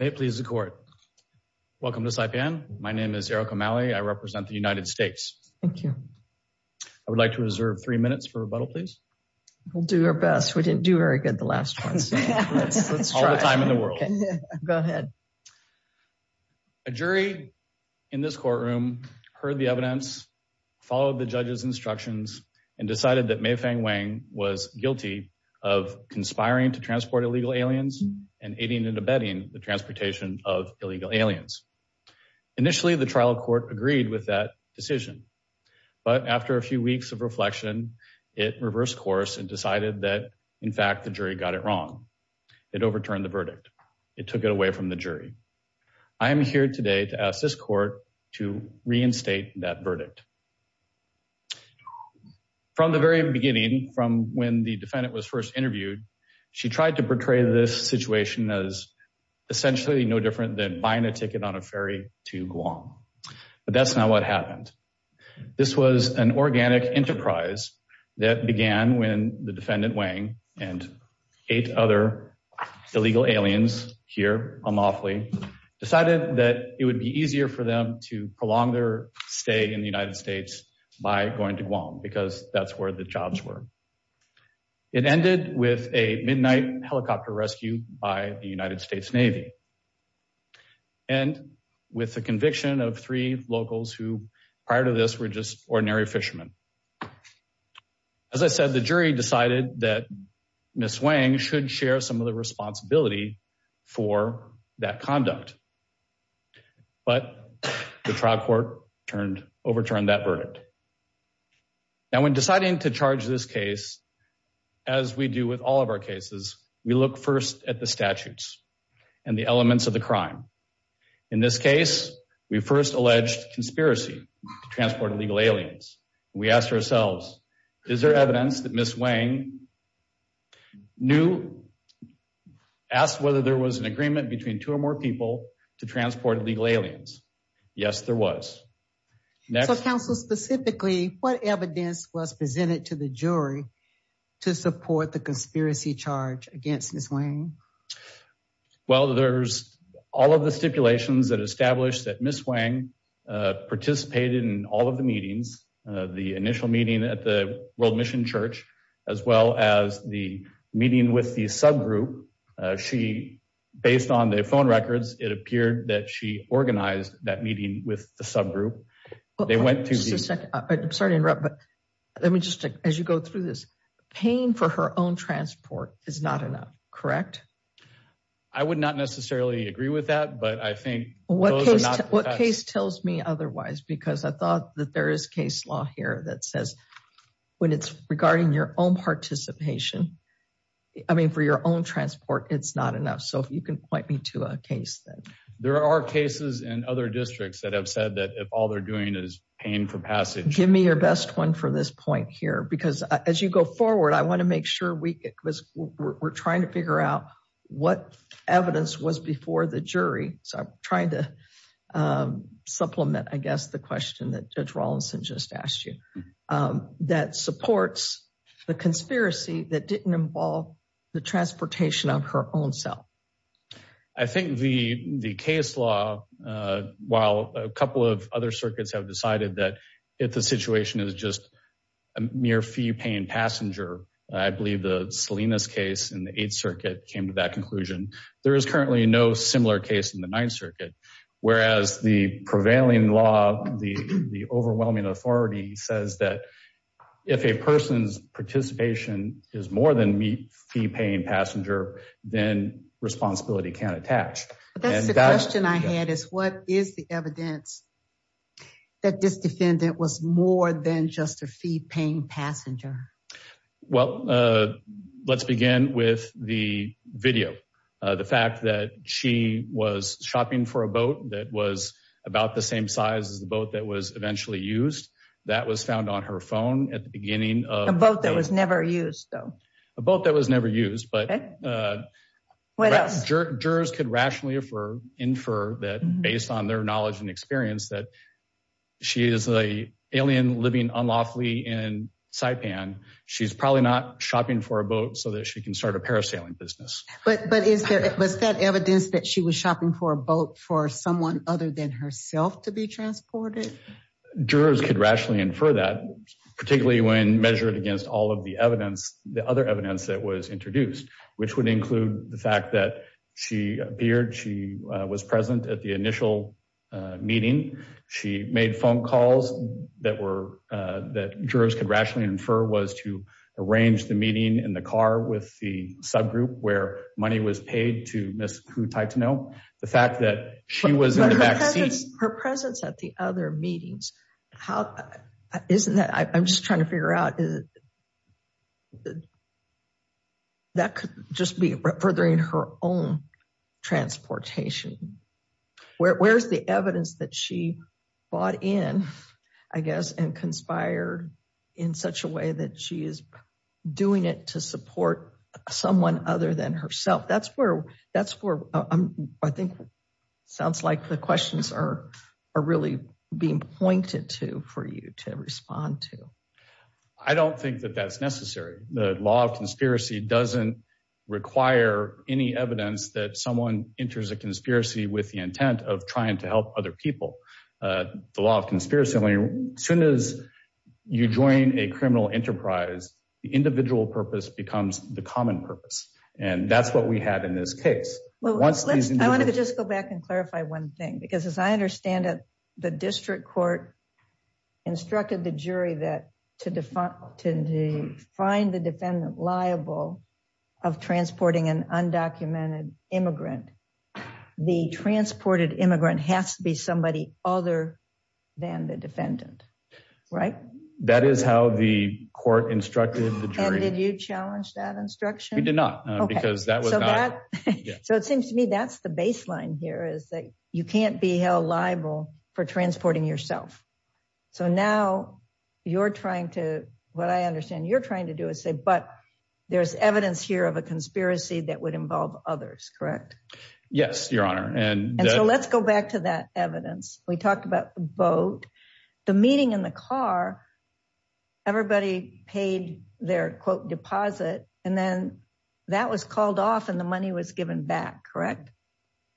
May it please the court. Welcome to Saipan. My name is Eric O'Malley. I represent the United States. Thank you. I would like to reserve three minutes for rebuttal, please. We'll do our best. We didn't do very good the last time. All the time in the world. Go ahead. A jury in this courtroom heard the evidence, followed the judge's instructions, and decided that May Fang Weng was guilty of conspiring to transport illegal aliens and aiding and abetting the transportation of illegal aliens. Initially, the trial court agreed with that decision. But after a few weeks of reflection, it reversed course and decided that, in fact, the jury got it wrong. It overturned the verdict. It took it away from the jury. I am here today to ask this to reinstate that verdict. From the very beginning, from when the defendant was first interviewed, she tried to portray this situation as essentially no different than buying a ticket on a ferry to Guam. But that's not what happened. This was an organic enterprise that began when the defendant and eight other illegal aliens here on Laughley decided that it would be easier for them to prolong their stay in the United States by going to Guam because that's where the jobs were. It ended with a midnight helicopter rescue by the United States Navy and with the conviction of three locals who, prior to this, were just ordinary fishermen. As I said, the jury decided that Ms. Wang should share some of the responsibility for that conduct. But the trial court overturned that verdict. Now, when deciding to charge this case, as we do with all of our cases, we look first at the statutes and the elements of the crime. In this case, we first alleged conspiracy to transport illegal aliens. We asked ourselves, is there evidence that Ms. Wang knew? Asked whether there was an agreement between two or more people to transport illegal aliens. Yes, there was. So, counsel, specifically, what evidence was presented to the jury to support the conspiracy charge against Ms. Wang? Well, there's all of the stipulations that establish that Ms. Wang participated in all of the meetings, the initial meeting at the World Mission Church, as well as the meeting with the subgroup. Based on the phone records, it appeared that she organized that meeting with the subgroup. I'm sorry to interrupt, but as you go through this, paying for her own transport is not enough, correct? I would not necessarily agree with that, but I think what case tells me otherwise, because I thought that there is case law here that says when it's regarding your own participation, I mean, for your own transport, it's not enough. So, if you can point me to a case then. There are cases in other districts that have said that if all they're doing is paying for passage. Give me your best one for this point here, because as you go forward, I want to make sure we're trying to figure out what evidence was before the jury. So, I'm trying to supplement, I guess, the question that Judge Rawlinson just asked you, that supports the conspiracy that didn't involve the transportation of her own self. I think the case law, while a couple of other circuits have decided that if the situation is just a mere fee-paying passenger, I believe the Salinas case in the Eighth Circuit came to that conclusion. There is currently no similar case in the Ninth Circuit, whereas the prevailing law, the overwhelming authority says that if a person's participation is more than fee-paying passenger, then responsibility can't attach. That's the question I had, is what is the evidence that this defendant was more than just a fee-paying passenger? Well, let's begin with the video. The fact that she was shopping for a boat that was about the same size as the boat that was eventually used, that was found on her phone at the beginning of... A boat that was never used, though. A boat that was never used, but jurors could rationally infer that based on their knowledge and experience that she is an alien living unlawfully in Saipan. She's probably not shopping for a boat so that she can start a parasailing business. But was that evidence that she was shopping for a boat for someone other than herself to be transported? Jurors could rationally infer that, particularly when measured against all of the evidence, the other evidence that was introduced, which would include the fact that she appeared, she was present at the initial meeting. She made phone calls that jurors could rationally infer was to arrange the meeting in the car with the subgroup where money was paid to Ms. Hutaitono. The fact that she was in the back seat... Her presence at the other meetings, isn't that... I'm just trying to figure out... That could just be furthering her own transportation. Where's the evidence that she bought in, I guess, and conspired in such a way that she is doing it to support someone other than herself? That's where I think sounds like the questions are really being pointed to for you to respond to. I don't think that that's necessary. The law of conspiracy doesn't require any evidence that someone enters a conspiracy with the intent of trying to help other people. The law of conspiracy, as soon as you join a criminal enterprise, the individual purpose becomes the common purpose. That's what we had in this case. I wanted to just go back and clarify one thing, because as I understand it, the district court instructed the jury that to find the defendant liable of transporting an undocumented immigrant, the transported immigrant has to be somebody other than the defendant. Right? That is how the court instructed the jury. And did you challenge that instruction? We did not, because that was not... So it seems to me that's the baseline here, is that you can't be held liable for transporting yourself. So now, you're trying to... What I understand you're trying to do is say, but there's evidence here of a conspiracy that would involve others, correct? Yes, Your Honor. And so let's go back to that evidence. We talked about the boat, the meeting in the car, everybody paid their, quote, deposit, and then that was called off and the money was given back, correct?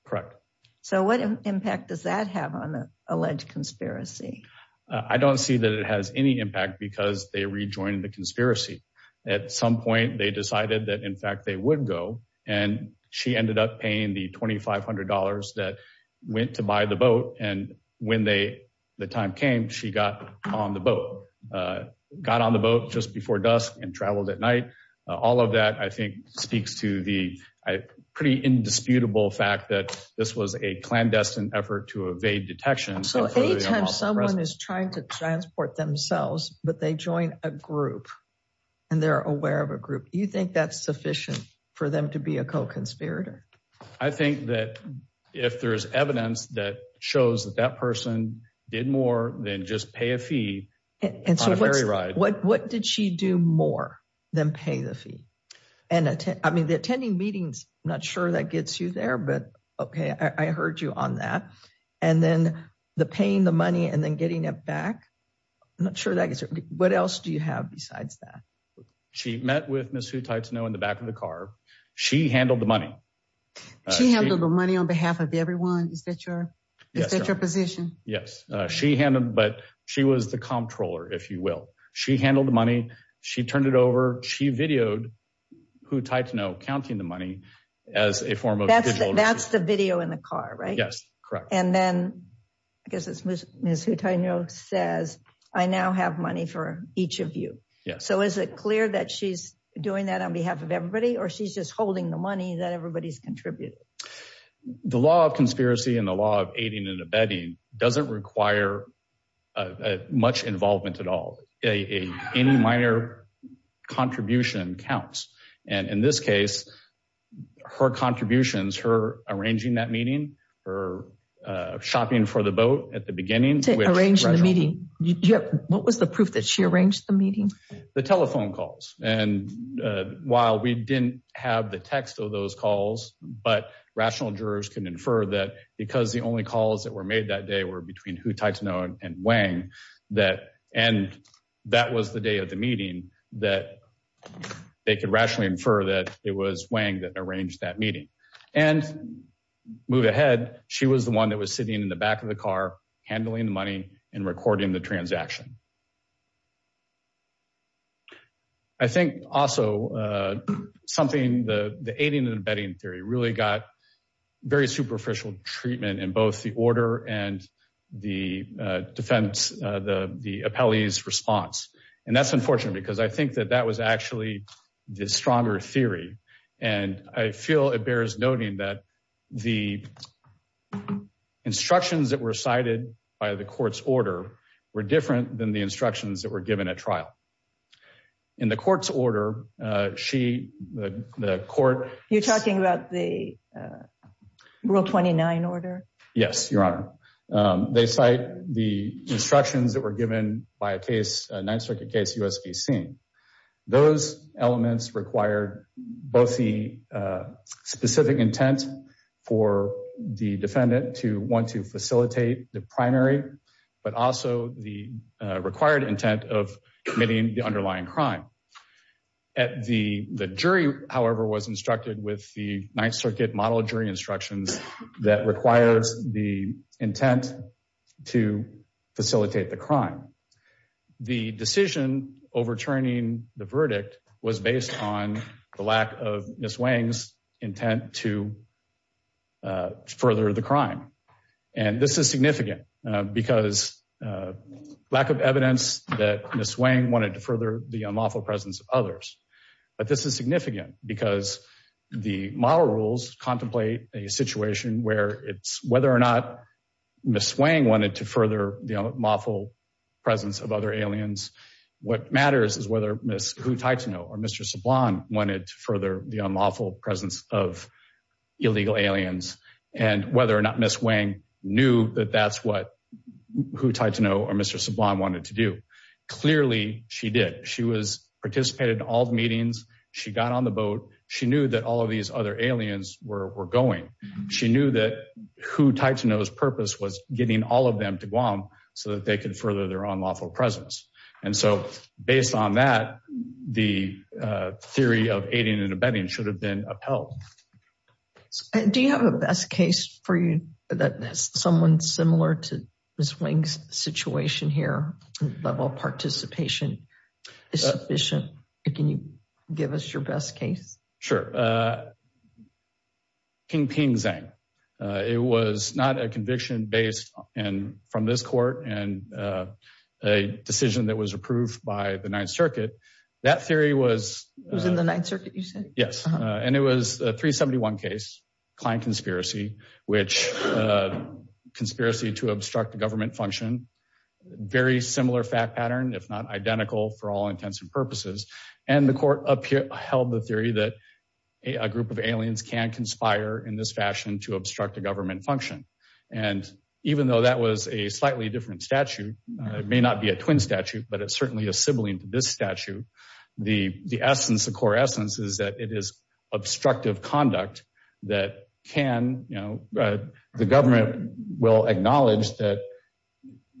Correct. So what impact does that have on the alleged conspiracy? I don't see that it has any impact, because they rejoined the conspiracy. At some point, they decided that, in fact, they would go, and she ended up paying the $2,500 that went to buy the boat. And when the time came, she got on the boat, got on the boat just before dusk and traveled at night. All of that, I think, speaks to the pretty indisputable fact that this was a clandestine effort to evade detection. So A-10, someone is trying to transport themselves, but they join a group, and they're aware of a group. Do you think that's sufficient for them to be a co-conspirator? I think that if there's evidence that shows that that person did more than just pay a fee, on a ferry ride. What did she do more than pay the fee? I mean, the attending meetings, I'm not sure that gets you there, but okay, I heard you on that. And then the paying the money and then getting it back, I'm not sure that gets you there. What else do you have besides that? She met with Ms. Hutaitono in the back of the car. She handled the money. She handled the money on behalf of everyone? Is that your position? Yes, she handled, but she was the comptroller, if you will. She handled the money. She turned it over. She videoed Hutaitono counting the money as a form of... That's the video in the car, right? Yes, Hutaitono says, I now have money for each of you. So is it clear that she's doing that on behalf of everybody, or she's just holding the money that everybody's contributed? The law of conspiracy and the law of aiding and abetting doesn't require much involvement at all. Any minor contribution counts. And in this case, her contributions, her arranging that meeting, her shopping for the boat at the beginning. Arranging the meeting. What was the proof that she arranged the meeting? The telephone calls. And while we didn't have the text of those calls, but rational jurors can infer that because the only calls that were made that day were between Hutaitono and Wang, and that was the day of the meeting, that they could rationally infer that it was Wang that arranged that meeting. And move ahead, she was the one that was sitting in the back of the car, handling the money and recording the transaction. I think also something, the aiding and abetting theory really got very superficial treatment in both the order and the defense, the appellee's response. And that's unfortunate because I think that was actually the stronger theory. And I feel it bears noting that the instructions that were cited by the court's order were different than the instructions that were given at trial. In the court's order, she, the court- You're talking about the Rule 29 order? Yes, Your Honor. They cite the instructions that were given by a case, a Ninth Circuit case, USVC. Those elements required both the specific intent for the defendant to want to facilitate the primary, but also the required intent of committing the underlying crime. The jury, however, was instructed with the Ninth Circuit model jury instructions that requires the intent to facilitate the crime. The decision overturning the verdict was based on the lack of Ms. Wang's intent to further the crime. And this is significant because lack of evidence that Ms. Wang wanted to further the unlawful presence of others. But this is significant because the model rules contemplate a situation where it's whether or not Ms. Wang wanted to further the unlawful presence of other aliens. What matters is whether Ms. Hutaitono or Mr. Sablan wanted to further the unlawful presence of illegal aliens and whether or not Ms. Wang knew that that's what Hutaitono or Mr. Sablan wanted to do. Clearly she did. She participated in all the meetings. She got on the boat. She knew that all of these other aliens were going. She knew that Hutaitono's purpose was getting all of them to Guam so that they could further their unlawful presence. And so based on that, the theory of aiding and abetting should have been upheld. Do you have a best case for you that has someone similar to Ms. Wang's situation here, level of participation is sufficient? Can you give us your best case? Sure. King Ping Zhang. It was not a conviction based from this court and a decision that was approved by the Ninth Circuit. That theory was... It was in the Ninth Circuit you said? Yes. And it was a 371 case, client conspiracy, which conspiracy to obstruct the government function. Very similar fact pattern, if not identical for all intents and purposes. And the court upheld the theory that a group of aliens can conspire in this fashion to obstruct the government function. And even though that was a slightly different statute, it may not be a twin statute, but it's certainly a sibling to this statute. The essence, the core essence is that it is obstructive conduct that can... The government will acknowledge that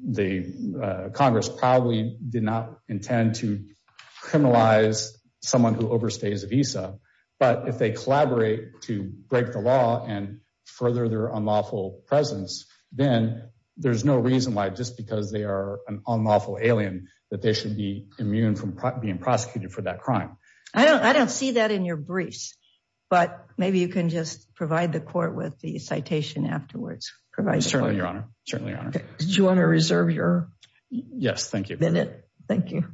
the Congress probably did not intend to criminalize someone who overstays a visa. But if they collaborate to break the law and further their unlawful presence, then there's no reason why just because they are an unlawful alien, that they should be immune from being prosecuted for that crime. I don't see that in your briefs, but maybe you can just provide the court with the citation afterwards. Certainly, Your Honor. Certainly, Your Honor. Did you want to reserve your minute? Yes, thank you. Thank you.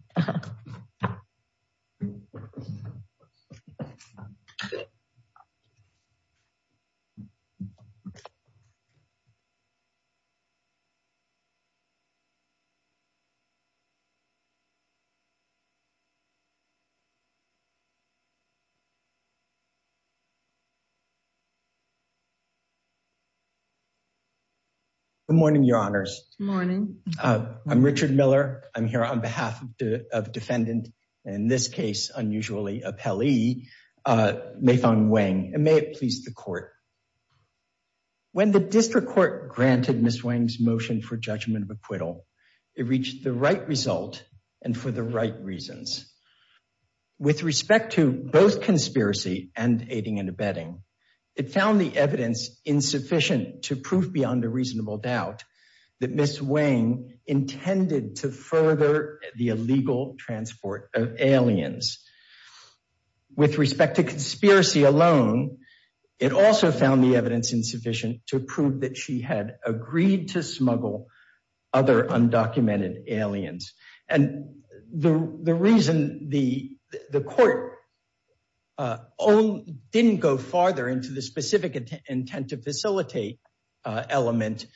Good morning, Your Honors. Good morning. I'm Richard Miller. I'm here on behalf of defendant, and in this case, unusually, a Pelley, Mayfan Wang. And may it please the court. When the district court granted Ms. Wang's motion for judgment of acquittal, it reached the right result and for the right reasons. With respect to both conspiracy and aiding and abetting, it found the evidence insufficient to prove beyond a reasonable doubt that Ms. Wang intended to further the illegal transport of aliens. With respect to conspiracy alone, it also found the evidence insufficient to prove that she had agreed to smuggle other undocumented aliens. And the reason the court didn't go farther into the specific intent to facilitate element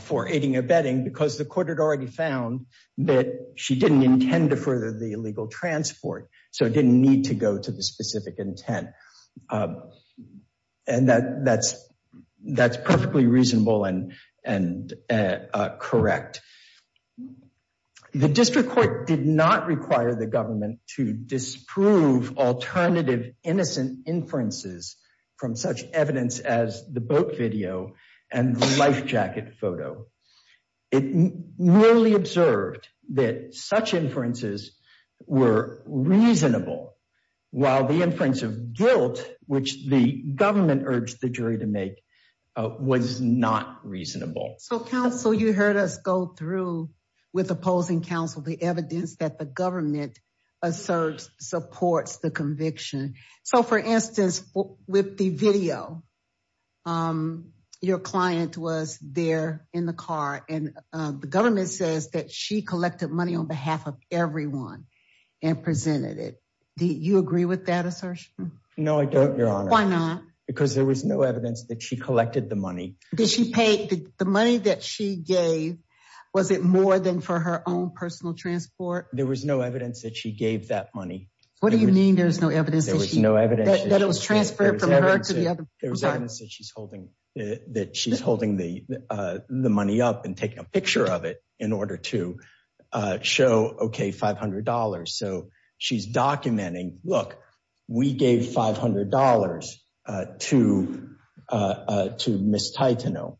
for aiding and abetting, because the court had already found that she didn't intend to further the illegal transport. So it didn't need to go to specific intent. And that's perfectly reasonable and correct. The district court did not require the government to disprove alternative innocent inferences from such evidence as the boat video and the life jacket photo. It merely observed that such inferences were reasonable, while the inference of guilt, which the government urged the jury to make, was not reasonable. So counsel, you heard us go through with opposing counsel the evidence that the government asserts supports the conviction. So for instance, with the video, your client was there in the car and the government says that she collected money on behalf of everyone and presented it. Do you agree with that assertion? No, I don't, your honor. Why not? Because there was no evidence that she collected the money. Did she pay the money that she gave? Was it more than for her own personal transport? There was no evidence that she gave that money. What do you mean there's no evidence? There was no evidence that it was transferred from her to the other. There's evidence that she's holding that she's holding the money up and taking a picture of it in order to show, okay, $500. So she's documenting, look, we gave $500 to Miss Titano.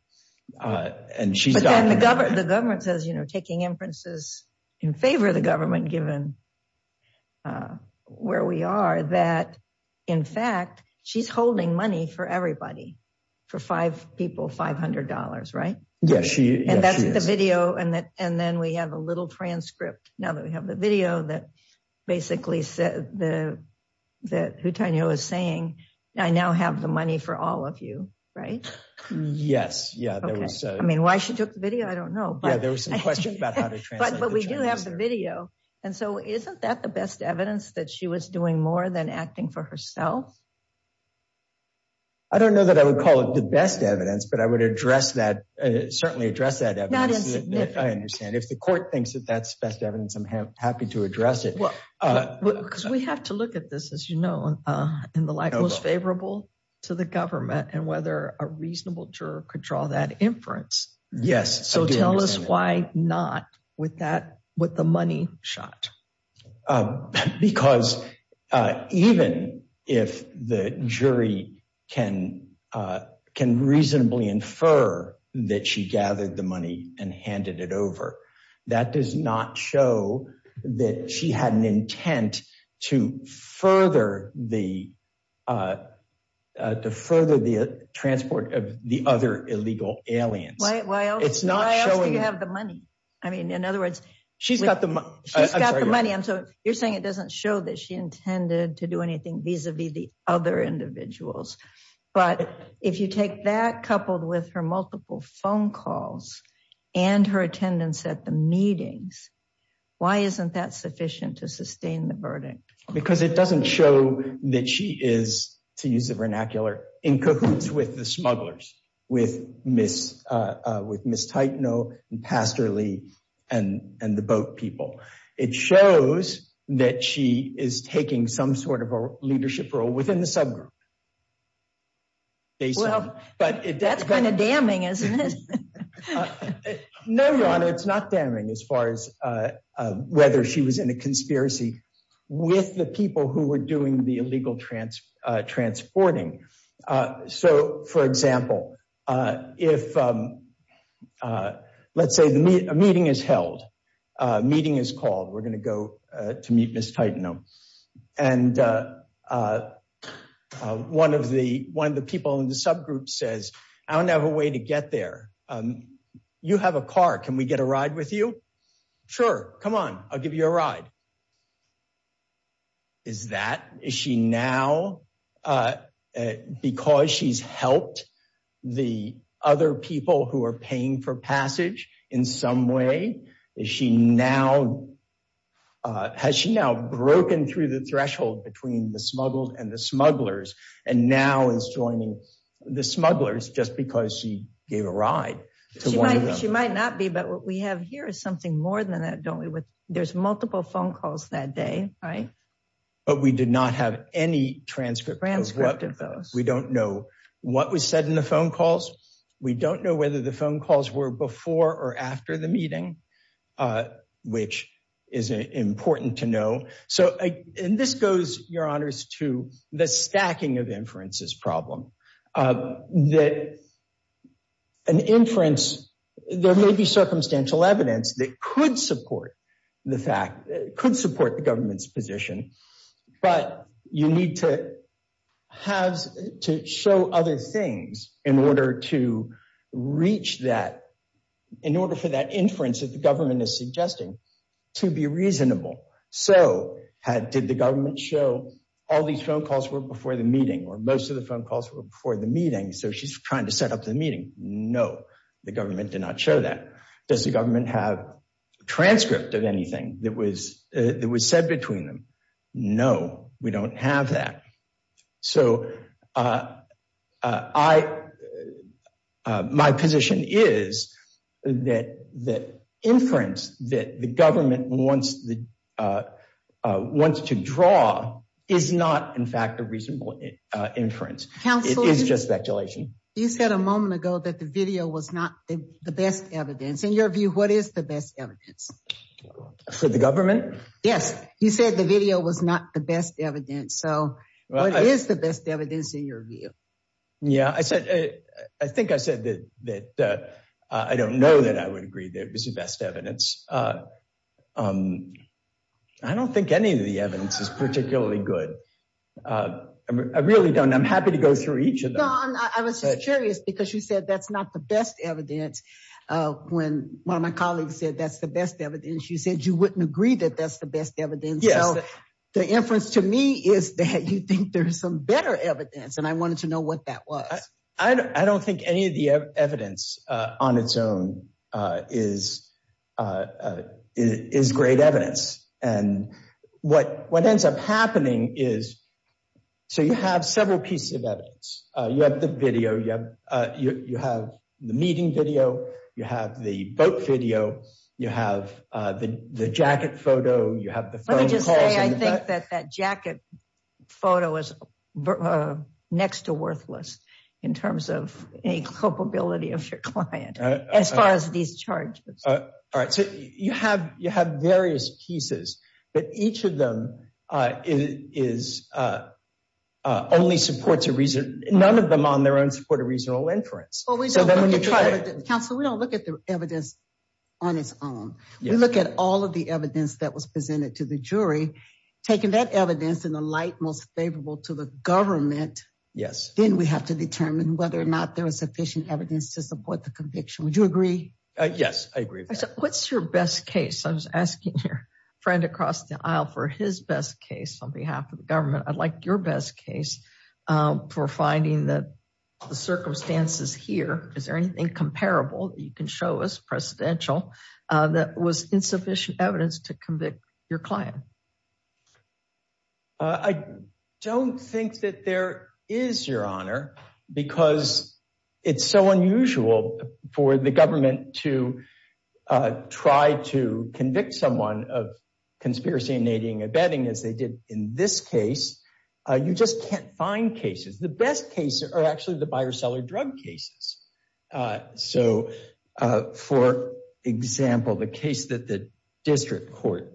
But then the government says, taking inferences in favor of the government, given where we are, that in fact, she's holding money for everybody, for five people, $500, right? Yes, she is. And that's the video. And then we have a little transcript. Now that we have the video that basically said that Titano was saying, I now have the money for all of you, right? Yes. Yeah. Okay. I mean, why she took the video, I don't know. Yeah, there was some questions about how to translate. But we do have the video. And so isn't that the best evidence that she was doing more than acting for herself? I don't know that I would call it the best evidence, but I would address that, certainly address that evidence. Not insignificant. I understand. If the court thinks that that's best evidence, I'm happy to address it. Because we have to look at this, as you know, in the light most favorable to the government and whether a reasonable juror could draw that inference. Yes. So tell us why not with the money shot? Because even if the jury can reasonably infer that she gathered the money and handed it over, that does not show that she had an intent to further the transport of the other illegal aliens. Why else do you have the money? I mean, in other words, she's got the money. You're saying it doesn't show that she intended to do anything vis-a-vis the other individuals. But if you take that coupled with her multiple phone calls and her attendance at the meetings, why isn't that sufficient to sustain the verdict? It doesn't show that she is, to use the vernacular, in cahoots with the smugglers, with Ms. Titano and Pastor Lee and the boat people. It shows that she is taking some sort of a leadership role within the subgroup. That's kind of damning, isn't it? No, Your Honor, it's not damning as far as whether she was in a conspiracy with the people who were doing the illegal transporting. So, for example, let's say a meeting is held, a meeting is called, we're going to go to meet Ms. Titano, and one of the people in the subgroup says, I don't have a way to get there. You have a car, can we get a ride with you? Sure, come on, I'll give you a ride. Is that, is she now, because she's helped the other people who are paying for passage in some way, is she now, has she now broken through the threshold between the smuggled and the smugglers, and now is joining the smugglers just because she gave a ride to one of them? She might not be, but what we have here is something more than that, don't we? There's multiple phone calls that day, right? But we did not have any transcript of those. We don't know what was said in the phone calls. We don't know whether the phone calls were before or after the meeting, which is important to know. So, and this goes, Your Honors, to the stacking of inferences problem, that an inference, there may be circumstantial evidence that could support the fact, could support the government's position, but you need to have, to show other things in order to reach that, in order for that inference that the government is suggesting to be reasonable. So, did the government show all these phone calls were before the meeting, or most of the phone calls were before the meeting, so she's trying to set up the meeting? No, the government did not show that. Does the government have a transcript of anything that was said between them? No, we don't have that. So, my position is that the inference that the government wants to draw is not, in fact, a reasonable inference. It is just speculation. You said a moment ago that the video was not the best evidence. In your view, what is the best evidence? For the government? Yes, you said the video was not the best evidence. So, what is the best evidence in your view? Yeah, I said, I think I said that, that I don't know that I would agree that it was the best evidence. I don't think any of the evidence is particularly good. I really don't. I'm happy to go through each of them. No, I was just curious because you said that's not the best evidence. When one of my colleagues said that's the best evidence, you said you wouldn't agree that that's the best evidence. So, the inference to me is that you think there's some better evidence, and I wanted to know what that was. I don't think any of the evidence on its own is great evidence, and what ends up happening is, so you have several pieces of evidence. You have the video, you have the meeting video, you have the boat video, you have the the jacket photo, you have the phone calls. Let me just say, I think that that jacket photo is next to worthless in terms of any culpability of your client as far as these charges. All right, so you have various pieces, but each of them only supports a reason. None of them on their own support a reasonable inference. Counsel, we don't look at the evidence on its own. We look at all of the evidence that was presented to the jury. Taking that evidence in the light most favorable to the government, then we have to determine whether or not there is sufficient evidence to support the friend across the aisle for his best case on behalf of the government. I'd like your best case for finding that the circumstances here, is there anything comparable you can show us, precedential, that was insufficient evidence to convict your client? I don't think that there is, Your Honor, because it's so unusual for the government to try to convict someone of conspiracy, innating, abetting as they did in this case. You just can't find cases. The best cases are actually the buyer-seller drug cases. So, for example, the case that the district court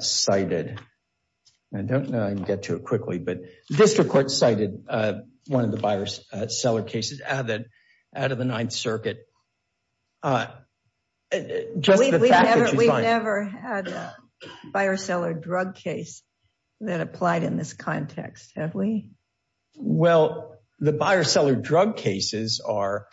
cited, I don't know, I can get to it quickly, but the district court cited one of the buyer-seller cases added out of the Ninth Circuit. We've never had a buyer-seller drug case that applied in this context, have we? Well, the buyer-seller drug cases are,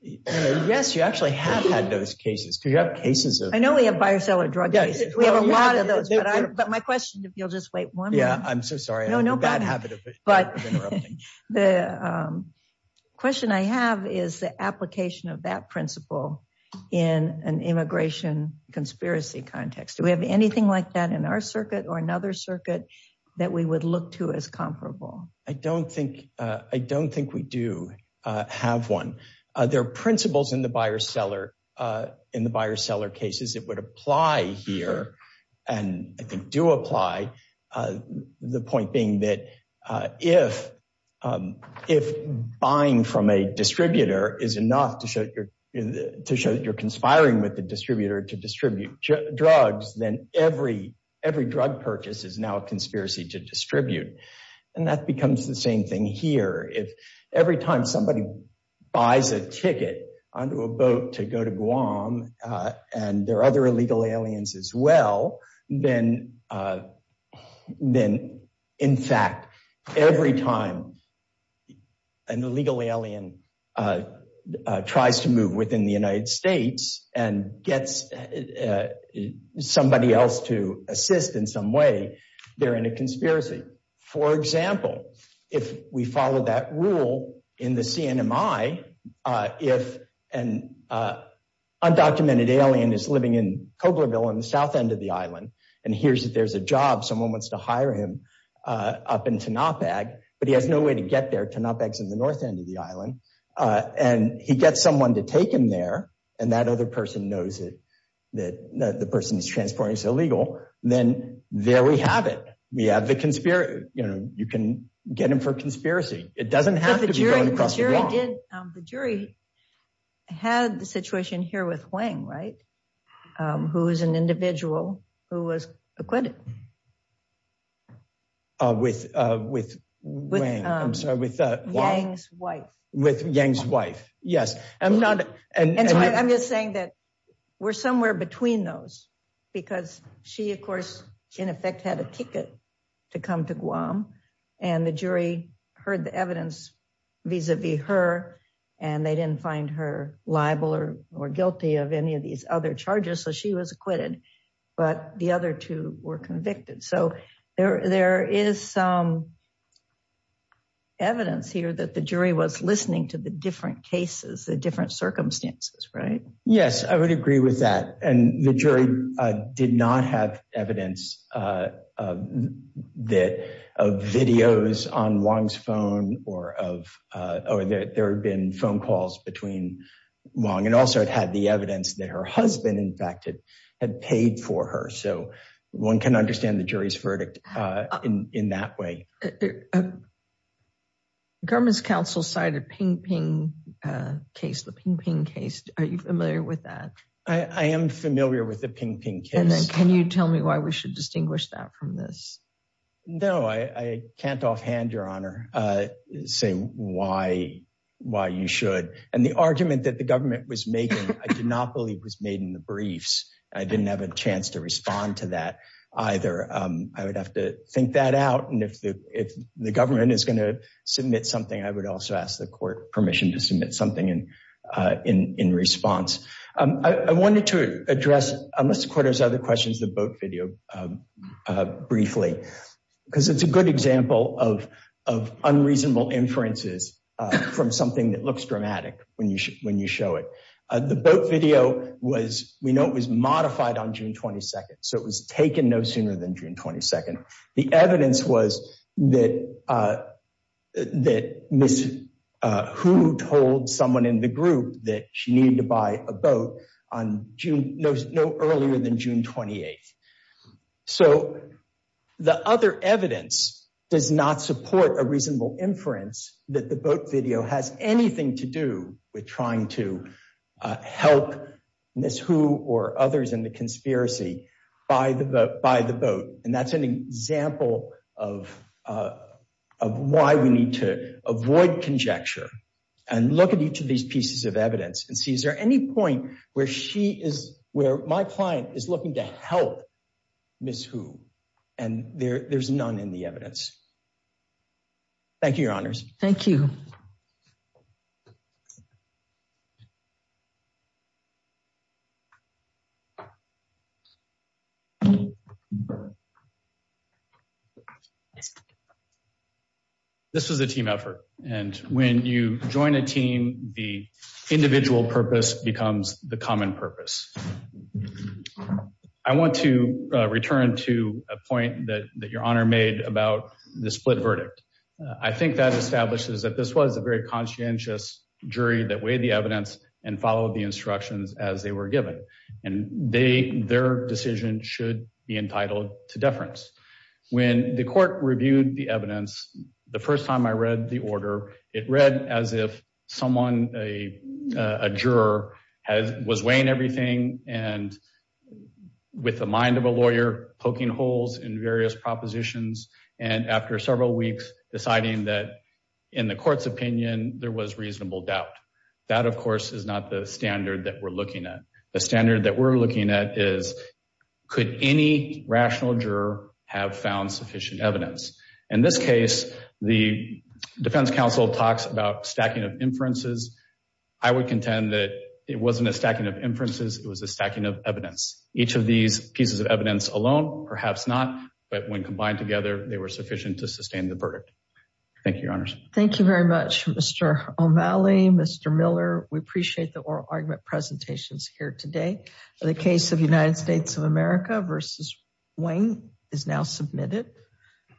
yes, you actually have had those cases. I know we have buyer-seller drug cases. We have a lot of those, but my question, if you'll just wait one minute. Yeah, I'm so sorry, I have a bad habit of interrupting. The question I have is the application of that principle in an immigration conspiracy context. Do we have anything like that in our circuit or another circuit that we would look to as comparable? I don't think we do have one. There are principles in the buyer-seller cases that would apply here and I think do apply. The point being that if buying from a distributor is enough to show that you're conspiring with the distributor to distribute drugs, then every drug purchase is now a conspiracy to distribute. That becomes the thing here. If every time somebody buys a ticket onto a boat to go to Guam and there are other illegal aliens as well, then in fact, every time an illegal alien tries to move within the United States, if we follow that rule in the CNMI, if an undocumented alien is living in Coblerville on the south end of the island and hears that there's a job, someone wants to hire him up in Tanopag, but he has no way to get there. Tanopag is in the north end of the island. He gets someone to take him there and that other person knows that the person he's transporting is illegal, then there we have it. We have the conspiracy. You can get him for conspiracy. It doesn't have to be going across the wall. The jury had the situation here with Wang, right? Who is an individual who was acquitted. With Wang's wife. I'm just saying that we're somewhere between those because she, of course, in effect, had a ticket to come to Guam and the jury heard the evidence vis-a-vis her and they didn't find her liable or guilty of any of these other charges, so she was acquitted, but the other two were convicted. So there is some evidence here that the jury was listening to the different cases, the different circumstances, right? Yes, I would agree with that and the jury did not have evidence of videos on Wang's phone or there have been phone calls between Wang and also it had the evidence that her husband, in fact, had paid for her. So one can understand the jury's verdict in that way. The government's counsel cited the Ping Ping case. Are you familiar with that? I am familiar with the Ping Ping case. Can you tell me why we should distinguish that from this? No, I can't offhand, Your Honor, say why you should and the argument that the government was making, I do not believe was made in the briefs. I didn't have a chance to respond to that either. I would have to think that out and if the government is going to submit something, I would also ask the court permission to submit something in response. I wanted to address, unless the court has other questions, the boat video briefly because it's a good example of unreasonable inferences from something that looks dramatic when you show it. The boat video was, it was modified on June 22nd, so it was taken no sooner than June 22nd. The evidence was that Ms. Hu told someone in the group that she needed to buy a boat no earlier than June 28th. So the other evidence does not support a reasonable inference that the boat video has anything to do with trying to help Ms. Hu or others in the conspiracy buy the boat. And that's an example of why we need to avoid conjecture and look at each of these pieces of evidence and see is there any point where she is, where my client is looking to help Ms. Hu and there's none in the evidence. Thank you, Your Honors. Thank you. This was a team effort and when you join a team, the individual purpose becomes the common purpose. I want to return to a point that Your Honor made about the split verdict. I think that establishes that this was a very conscientious jury that weighed the evidence and followed the instructions as they were given. And they, their decision should be entitled to deference. When the court reviewed the evidence, the first time I read the order, it read as if someone, a juror, was weighing everything and with the mind of a lawyer poking holes in various propositions. And after several weeks deciding that in the court's opinion, there was reasonable doubt. That of course is not the standard that we're looking at. The standard that we're looking at is could any rational juror have found sufficient evidence? In this case, the defense counsel talks about stacking of inferences. I would contend that it wasn't a stacking of inferences, it was a evidence alone. Perhaps not, but when combined together, they were sufficient to sustain the verdict. Thank you, Your Honors. Thank you very much, Mr. O'Malley, Mr. Miller. We appreciate the oral argument presentations here today. The case of United States of America v. Wang is now submitted.